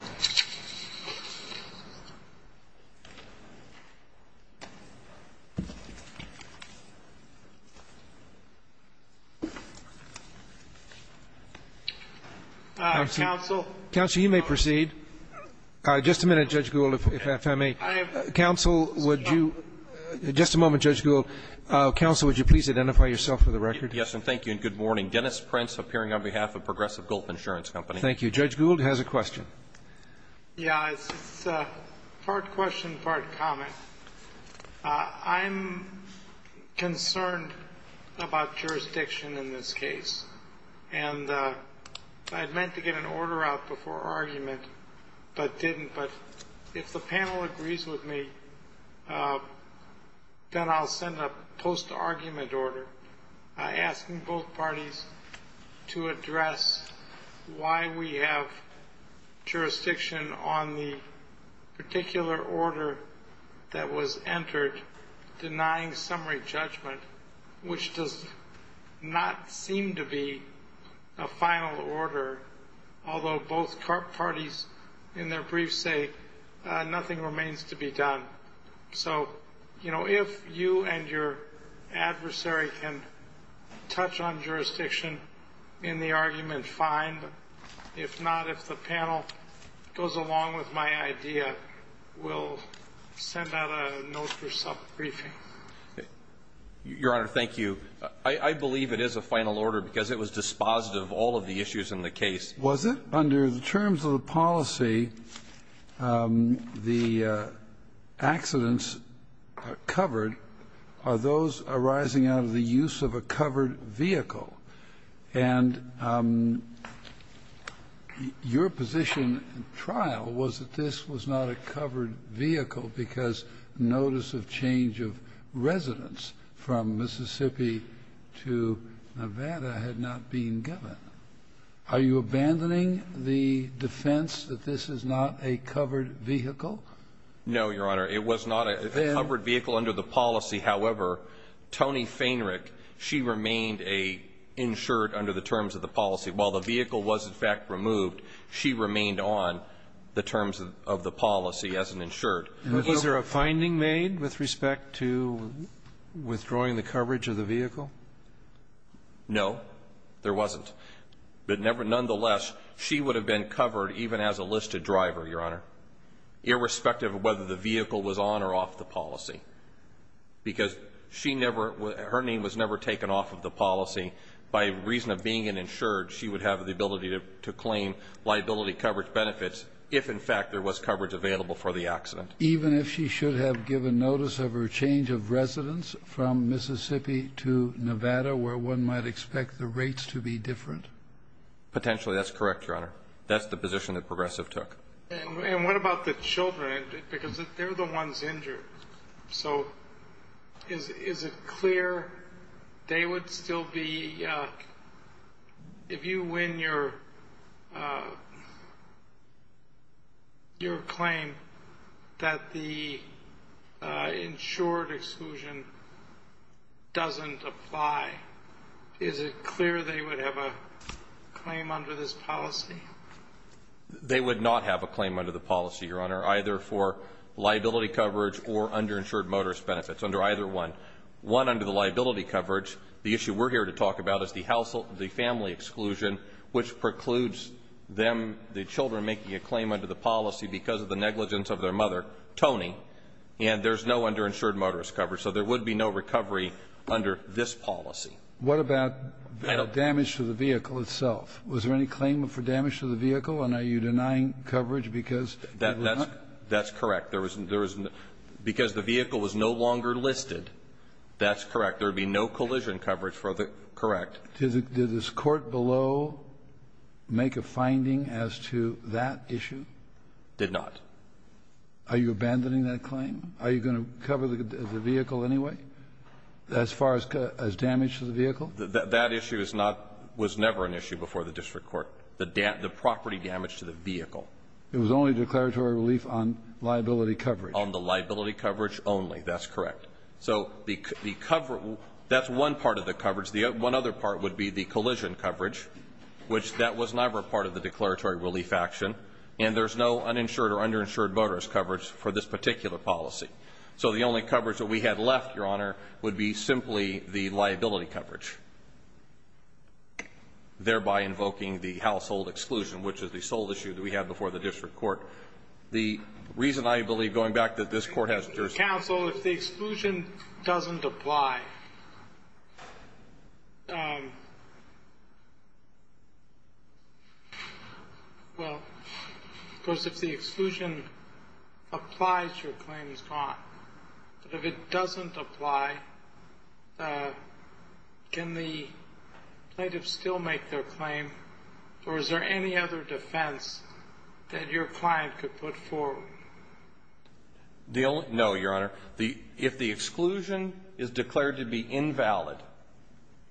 Faehnrich, Judge Gould, please identify yourself for the record. Yes, and thank you, and good morning. Dennis Prince, appearing on behalf of Progressive Gulf Insurance Company. Thank you. Judge Gould has a question. Yeah, it's part question, part comment. I'm concerned about jurisdiction in this case, and I meant to get an order out before argument, but didn't. But if the panel agrees with me, then I'll send a post-argument order asking both parties to address why we have jurisdiction on the particular order that was entered denying summary judgment, which does not seem to be a final order, although both parties in their briefs say nothing remains to be done. So, you know, if you and your adversary can touch on jurisdiction in the argument, fine, but if not, if the panel goes along with my idea, we'll send out a note for self-briefing. Your Honor, thank you. I believe it is a final order because it was dispositive of all of the issues in the case. Was it? Under the terms of the policy, the accidents covered are those arising out of the use of a covered vehicle. And your position in trial was that this was not a covered vehicle because notice of change of residence from Mississippi to Nevada had not been given. Are you abandoning the defense that this is not a covered vehicle? No, Your Honor. It was not a covered vehicle under the policy. However, Tony Feinrich, she remained an insured under the terms of the policy. While the vehicle was, in fact, removed, she remained on the terms of the policy as an insured. Is there a finding made with respect to withdrawing the coverage of the vehicle? No, there wasn't. But nonetheless, she would have been covered even as a listed driver, Your Honor, irrespective of whether the vehicle was on or off the policy, because she never was her name was never taken off of the policy. By reason of being an insured, she would have the ability to claim liability coverage benefits if, in fact, there was coverage available for the accident. Even if she should have given notice of her change of residence from Mississippi to Nevada, where one might expect the rates to be different? Potentially, that's correct, Your Honor. That's the position that Progressive took. And what about the children? Because they're the ones injured. So is it clear they would still be, if you win your claim, that the insured exclusion doesn't apply? Is it clear they would have a claim under this policy? They would not have a claim under the policy, Your Honor, either for liability coverage or underinsured motorist benefits, under either one. One under the policy. The issue we're here to talk about is the household, the family exclusion, which precludes them, the children, making a claim under the policy because of the negligence of their mother, Tony, and there's no underinsured motorist coverage. So there would be no recovery under this policy. What about damage to the vehicle itself? Was there any claim for damage to the vehicle? And are you denying coverage because it was not? That's correct. There was no – because the vehicle was no longer listed, that's correct. Did the court below make a finding as to that issue? Did not. Are you abandoning that claim? Are you going to cover the vehicle anyway, as far as damage to the vehicle? That issue is not – was never an issue before the district court, the property damage to the vehicle. It was only declaratory relief on liability coverage. On the liability coverage only. That's correct. So the – that's one part of the coverage. The – one other part would be the collision coverage, which that was never part of the declaratory relief action, and there's no uninsured or underinsured motorist coverage for this particular policy. So the only coverage that we had left, Your Honor, would be simply the liability coverage, thereby invoking the household exclusion, which is the sole issue that we had before the district court. The reason I believe, going back, that this court has jurisdiction – Well, of course, if the exclusion applies, your claim is gone. But if it doesn't apply, can the plaintiff still make their claim, or is there any other defense that your client could put forward? No, Your Honor. If the exclusion is declared to be invalid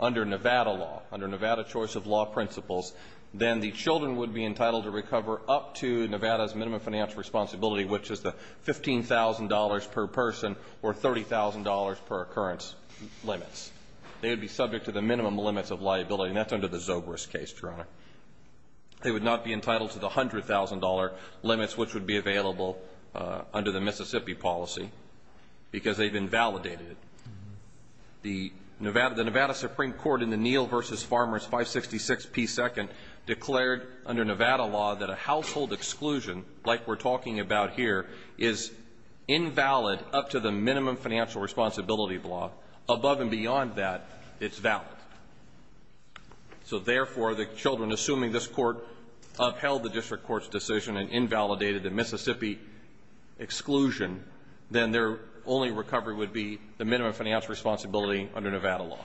under Nevada law, under Nevada choice of law principles, then the children would be entitled to recover up to Nevada's minimum financial responsibility, which is the $15,000 per person or $30,000 per occurrence limits. They would be subject to the minimum limits of liability, and that's under the Zobrist case, Your Honor. They would not be entitled to the $100,000 limits, which would be available under the Mississippi policy, because they've been validated. The Nevada Supreme Court in the Neal v. Farmers 566p2 declared under Nevada law that a household exclusion, like we're talking about here, is invalid up to the minimum financial responsibility law. Above and beyond that, it's valid. So therefore, the children assuming this court upheld the district court's decision and invalidated the Mississippi exclusion, then their only recovery would be the minimum financial responsibility under Nevada law.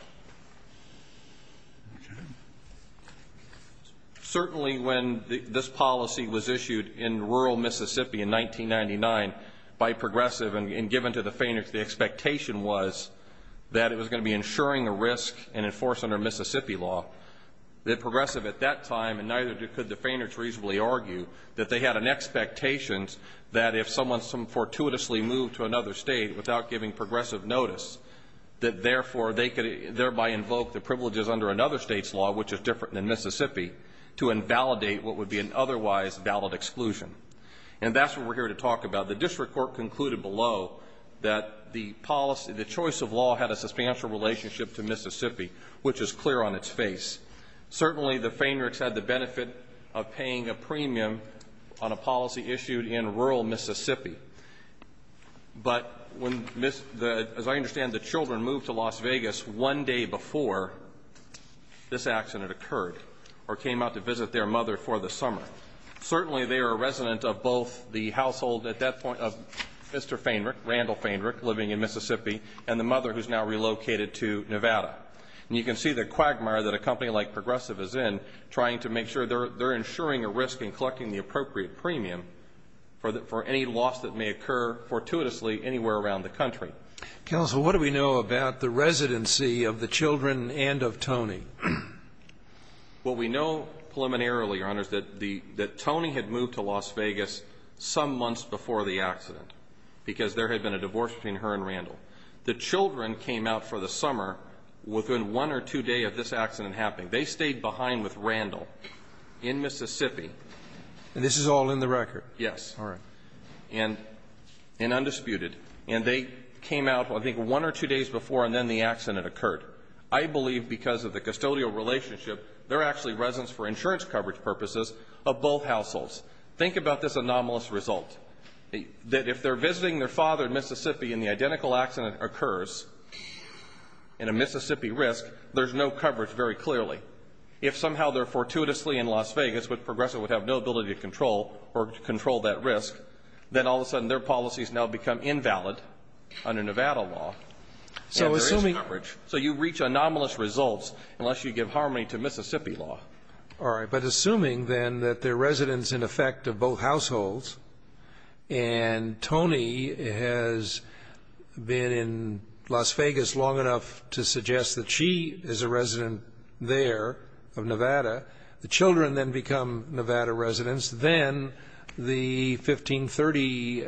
Certainly, when this policy was issued in rural Mississippi in 1999 by Progressive and given to the plaintiff, the expectation was that it was going to be ensuring a risk and enforced under Mississippi law. That Progressive at that time, and neither could the feigners reasonably argue, that they had an expectation that if someone fortuitously moved to another State without giving Progressive notice, that therefore they could thereby invoke the privileges under another State's law, which is different than Mississippi, to invalidate what would be an otherwise valid exclusion. And that's what we're here to talk about. The district court concluded below that the policy, the choice of law had a substantial relationship to Mississippi, which is clear on its face. Certainly, the Feinrichs had the benefit of paying a premium on a policy issued in rural Mississippi. But as I understand, the children moved to Las Vegas one day before this accident occurred or came out to visit their mother for the summer. Certainly, they are a resident of both the household at that point of Mr. Feinrich, living in Mississippi, and the mother who's now relocated to Nevada. And you can see the quagmire that a company like Progressive is in, trying to make sure they're ensuring a risk and collecting the appropriate premium for any loss that may occur fortuitously anywhere around the country. Scalia. Counsel, what do we know about the residency of the children and of Tony? Well, we know preliminarily, Your Honors, that Tony had moved to Las Vegas some months before the accident, because there had been a divorce between her and Randall. The children came out for the summer within one or two days of this accident happening. They stayed behind with Randall in Mississippi. And this is all in the record? Yes. All right. And undisputed. And they came out, I think, one or two days before, and then the accident occurred. I believe because of the custodial relationship, they're actually residents for insurance coverage purposes of both households. Think about this anomalous result, that if they're visiting their father in Mississippi and the identical accident occurs in a Mississippi risk, there's no coverage very clearly. If somehow they're fortuitously in Las Vegas, which Progressive would have no ability to control or control that risk, then all of a sudden their policies now become invalid under Nevada law. So assuming So you reach anomalous results unless you give harmony to Mississippi law. All right. But assuming, then, that they're residents, in effect, of both households, and Tony has been in Las Vegas long enough to suggest that she is a resident there of Nevada, the children then become Nevada residents, then the 1530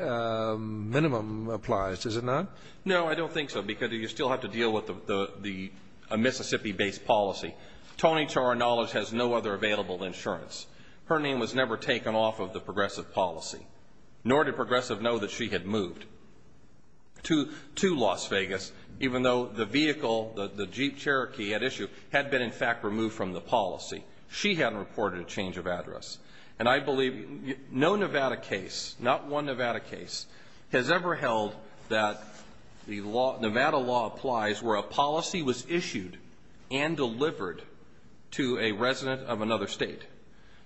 minimum applies, does it not? No, I don't think so, because you still have to deal with a Mississippi-based policy. Tony, to our knowledge, has no other available insurance. Her name was never taken off of the Progressive policy, nor did Progressive know that she had moved to Las Vegas, even though the vehicle that the Jeep Cherokee had issued had been, in fact, removed from the policy. She hadn't reported a change of address. And I believe no Nevada case, not one Nevada case, has ever held that the Nevada law applies where a policy was issued and delivered to a resident of another state.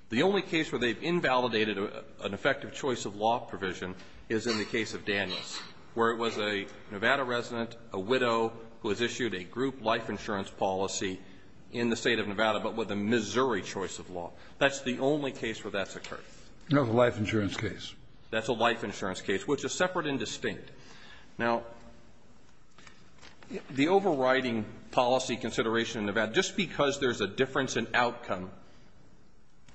The only case where they've invalidated an effective choice of law provision is in the case of Daniels, where it was a Nevada resident, a widow, who has issued a group life insurance policy in the state of Nevada, but with a Missouri choice of law. That's the only case where that's occurred. No, the life insurance case. That's a life insurance case, which is separate and distinct. Now, the overriding policy consideration in Nevada, just because there's a difference in outcome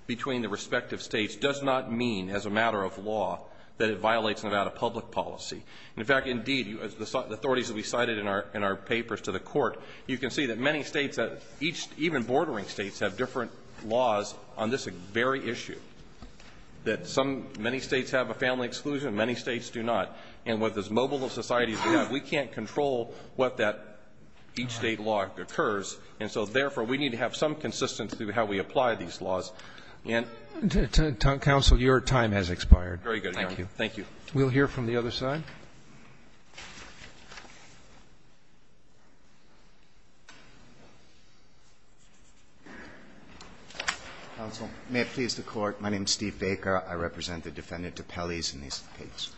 between the respective states, does not mean, as a matter of law, that it violates Nevada public policy. In fact, indeed, as the authorities have recited in our papers to the court, you can see that many states, even bordering states, have different laws on this very issue. That many states have a family exclusion, many states do not. And with as mobile a society as we have, we can't control what that each state law occurs. And so, therefore, we need to have some consistency with how we apply these laws. And to counsel, your time has expired. Very good. Thank you. Thank you. We'll hear from the other side. Counsel, may it please the court. My name is Steve Baker. I represent the defendant to Pelley's in this case.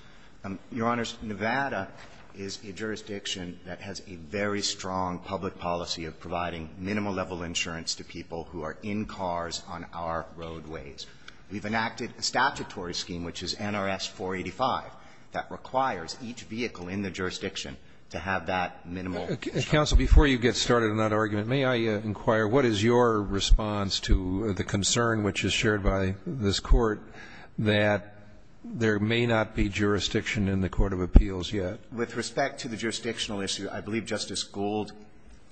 Your Honors, Nevada is a jurisdiction that has a very strong public policy of providing minimal level insurance to people who are in cars on our roadways. We've enacted a statutory scheme, which is NRS 485, that requires each vehicle in the jurisdiction to have that minimal. Counsel, before you get started on that argument, may I inquire, what is your response to the concern which is shared by this Court that there may not be jurisdiction in the court of appeals yet? With respect to the jurisdictional issue, I believe Justice Gold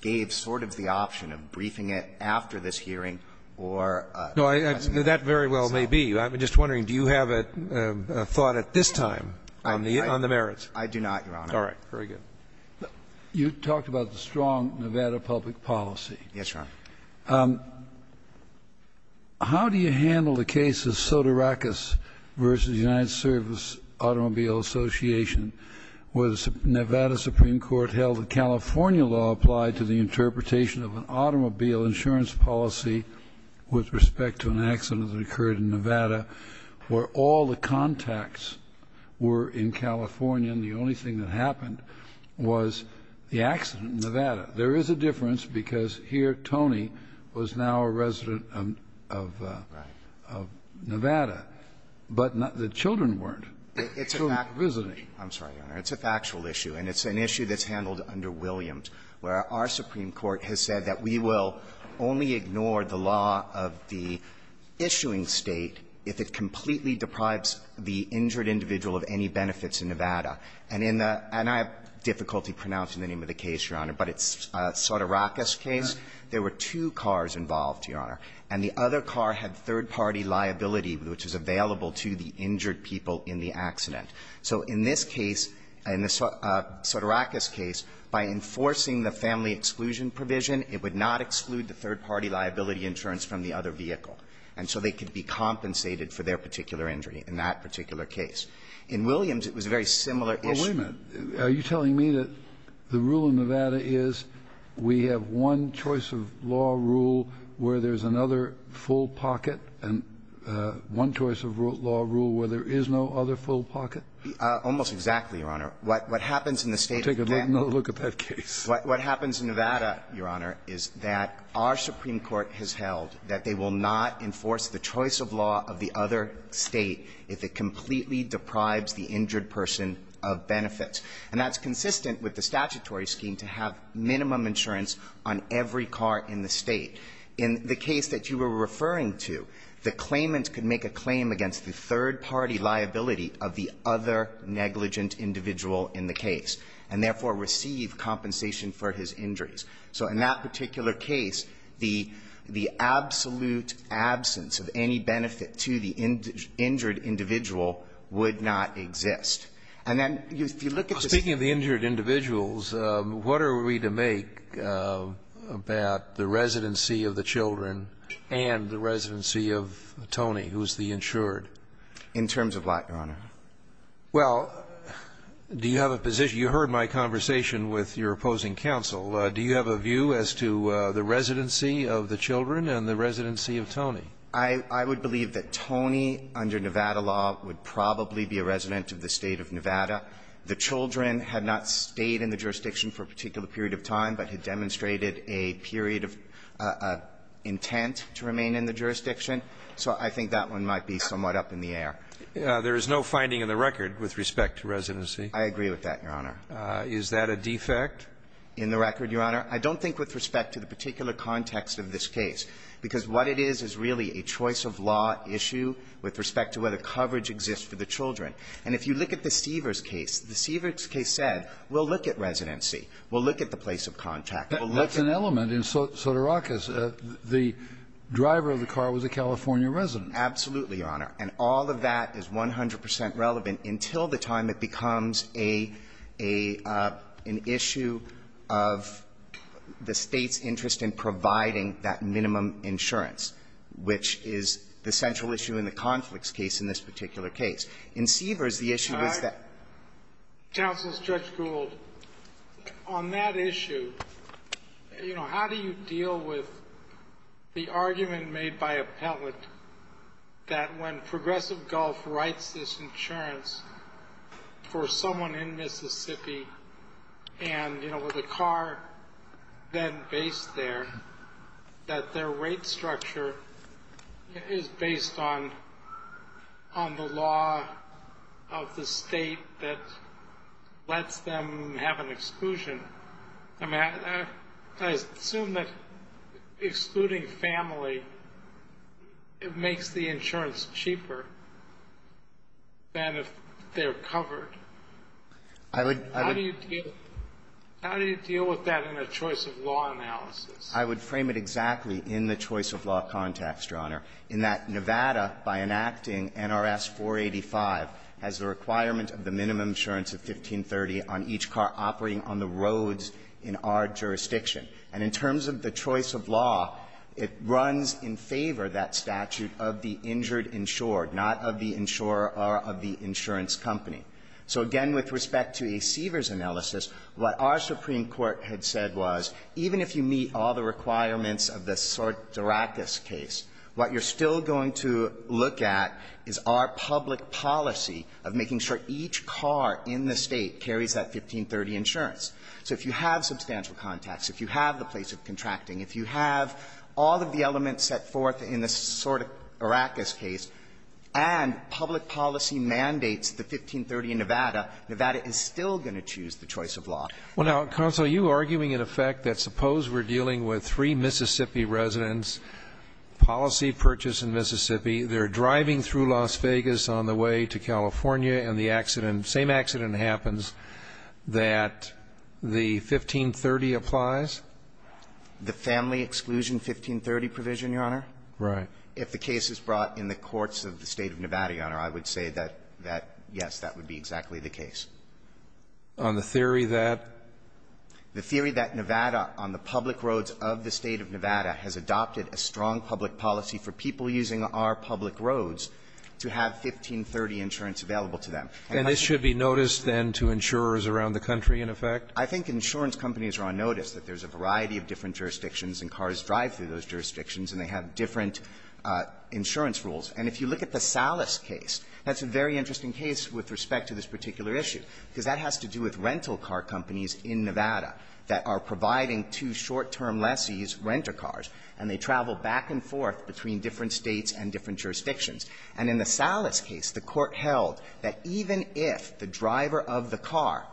gave sort of the option of briefing it after this hearing or a presentation. No, that very well may be. I'm just wondering, do you have a thought at this time on the merits? I do not, Your Honor. All right. Very good. You talked about the strong Nevada public policy. Yes, Your Honor. How do you handle the case of Sotirakis v. United Service Automobile Association, where the Nevada Supreme Court held that California law applied to the interpretation of an automobile insurance policy with respect to an accident that occurred in Nevada, where all the contacts were in California and the only thing that happened was the accident in Nevada? There is a difference, because here Tony was now a resident of Nevada, but the children weren't. It's a factual issue, and it's an issue that's handled under Williams, where our Supreme Court has said that we will only ignore the law of the issuing State if it completely deprives the injured individual of any benefits in Nevada. And in the – and I have difficulty pronouncing the name of the case, Your Honor, but it's Sotirakis case. There were two cars involved, Your Honor, and the other car had third-party liability, which is available to the injured people in the accident. So in this case, in the Sotirakis case, by enforcing the family exclusion provision, it would not exclude the third-party liability insurance from the other vehicle, and so they could be compensated for their particular injury in that particular case. In Williams, it was a very similar issue. Well, wait a minute. Are you telling me that the rule in Nevada is we have one choice of law rule where there's another full pocket and one choice of law rule where there is no other full pocket? Almost exactly, Your Honor. What happens in the State of Canada – We'll take another look at that case. What happens in Nevada, Your Honor, is that our Supreme Court has held that they will not enforce the choice of law of the other State if it completely deprives the injured person of benefits. And that's consistent with the statutory scheme to have minimum insurance on every car in the State. In the case that you were referring to, the claimant could make a claim against the third-party liability of the other negligent individual in the case and therefore receive compensation for his injuries. So in that particular case, the absolute absence of any benefit to the injured individual would not exist. And then if you look at the – Speaking of the injured individuals, what are we to make about the residency of the children and the residency of Tony, who is the insured? In terms of what, Your Honor? Well, do you have a position – you heard my conversation with your opposing counsel. Do you have a view as to the residency of the children and the residency of Tony? I would believe that Tony, under Nevada law, would probably be a resident of the State of Nevada. The children had not stayed in the jurisdiction for a particular period of time, but had demonstrated a period of intent to remain in the jurisdiction. So I think that one might be somewhat up in the air. There is no finding in the record with respect to residency. I agree with that, Your Honor. Is that a defect? In the record, Your Honor, I don't think with respect to the particular context of this case, because what it is is really a choice of law issue with respect to whether coverage exists for the children. And if you look at the Stevers case, the Stevers case said, we'll look at residency, we'll look at the place of contact, we'll look at the – But that's an element in Sotorakis. The driver of the car was a California resident. Absolutely, Your Honor. And all of that is 100 percent relevant until the time it becomes a – an issue of the State's interest in providing that minimum insurance, which is the central issue in the conflicts case in this particular case. In Stevers, the issue is that – Counsel, Judge Gould, on that issue, you know, how do you deal with the argument made by appellant that when Progressive Gulf writes this insurance for someone in Mississippi and, you know, with a car then based there, that their rate structure is based on – on the law of the State that lets them have an exclusion? I mean, I assume that excluding family makes the insurance cheaper than if they're covered. I would – How do you deal – how do you deal with that in a choice of law analysis? I would frame it exactly in the choice of law context, Your Honor, in that Nevada, by enacting NRS 485, has the requirement of the minimum insurance of 1530 on each car operating on the roads in our jurisdiction. And in terms of the choice of law, it runs in favor, that statute, of the injured insured, not of the insurer or of the insurance company. So again, with respect to a Stevers analysis, what our Supreme Court had said was, even if you meet all the requirements of the Sotirakis case, what you're still going to look at is our public policy of making sure each car in the State carries that 1530 insurance. So if you have substantial contacts, if you have the place of contracting, if you have all of the elements set forth in the Sotirakis case, and public policy mandates the 1530 in Nevada, Nevada is still going to choose the choice of law. Well, now, counsel, are you arguing, in effect, that suppose we're dealing with three Mississippi residents, policy purchase in Mississippi, they're driving through Nevada, that the 1530 applies? The family exclusion 1530 provision, Your Honor. Right. If the case is brought in the courts of the State of Nevada, Your Honor, I would say that, yes, that would be exactly the case. On the theory that? The theory that Nevada, on the public roads of the State of Nevada, has adopted a strong public policy for people using our public roads to have 1530 insurance available to them. And this should be noticed, then, to insurers around the country, in effect? I think insurance companies are on notice that there's a variety of different jurisdictions and cars drive through those jurisdictions and they have different insurance rules. And if you look at the Salas case, that's a very interesting case with respect to this particular issue, because that has to do with rental car companies in Nevada that are providing two short-term lessees renter cars, and they travel back and forth between different States and different jurisdictions. And in the Salas case, the court held that even if the driver of the car,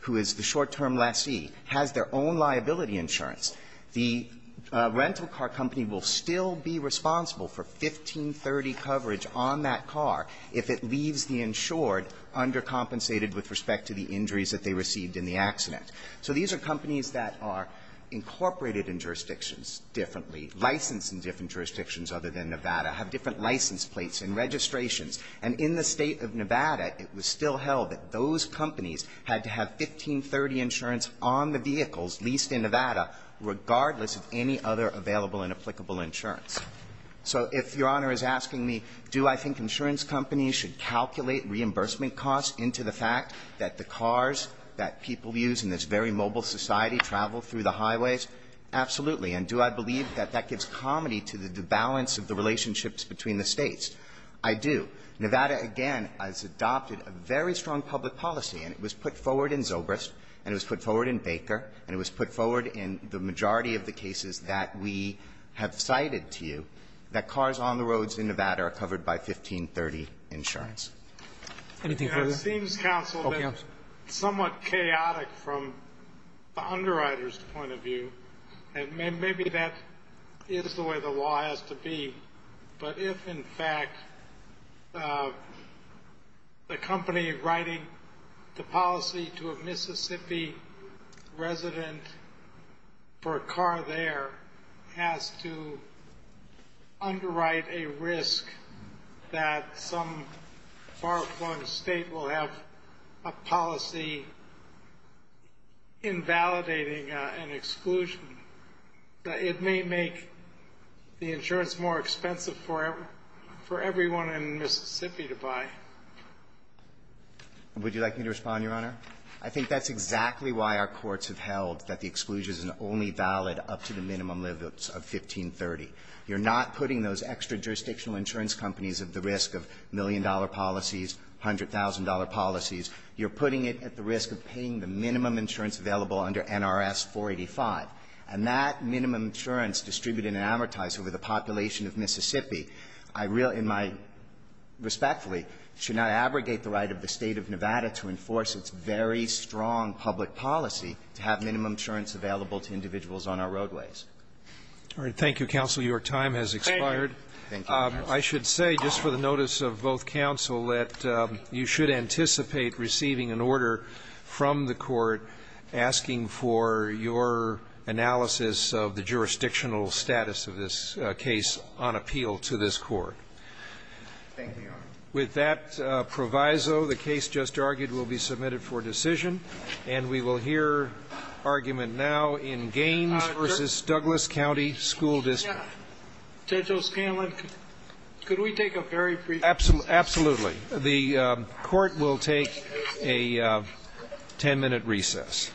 who is the short-term lessee, has their own liability insurance, the rental car company will still be responsible for 1530 coverage on that car if it leaves the insured undercompensated with respect to the injuries that they received in the accident. So these are companies that are incorporated in jurisdictions differently, licensed in different jurisdictions other than Nevada, have different license plates and registrations. And in the State of Nevada, it was still held that those companies had to have 1530 insurance on the vehicles leased in Nevada, regardless of any other available and applicable insurance. So if Your Honor is asking me, do I think insurance companies should calculate reimbursement costs into the fact that the cars that people use in this very mobile society travel through the highways? Absolutely. And do I believe that that gives comedy to the balance of the relationships between the States? I do. Nevada, again, has adopted a very strong public policy, and it was put forward in Zobrist, and it was put forward in Baker, and it was put forward in the majority of the cases that we have cited to you, that cars on the roads in Nevada are covered by 1530 insurance. Anything further? It seems, counsel, that it's somewhat chaotic from the underwriter's point of view, and maybe that is the way the law has to be. But if, in fact, the company writing the policy to a Mississippi resident for a car there has to underwrite a risk that some far-flung State will have a policy invalidating an exclusion, it may make the insurance more expensive for everyone in Mississippi to buy. Would you like me to respond, Your Honor? I think that's exactly why our courts have held that the exclusion is only valid up to the minimum limits of 1530. You're not putting those extra jurisdictional insurance companies at the risk of million-dollar policies, $100,000 policies. You're putting it at the risk of paying the minimum insurance available under NRS 485. And that minimum insurance distributed and amortized over the population of Mississippi I really in my ---- respectfully should not abrogate the right of the State of Nevada to enforce its very strong public policy to have minimum insurance available to individuals on our roadways. All right. Thank you, counsel. Your time has expired. Thank you. I should say, just for the notice of both counsel, that you should anticipate receiving an order from the Court asking for your analysis of the jurisdictional status of this case on appeal to this Court. Thank you, Your Honor. With that proviso, the case just argued will be submitted for decision, and we will hear argument now in Gaines v. Douglas County School District. Judge O'Scanlan, could we take a very brief break? Absolutely. The Court will take a 10-minute recess.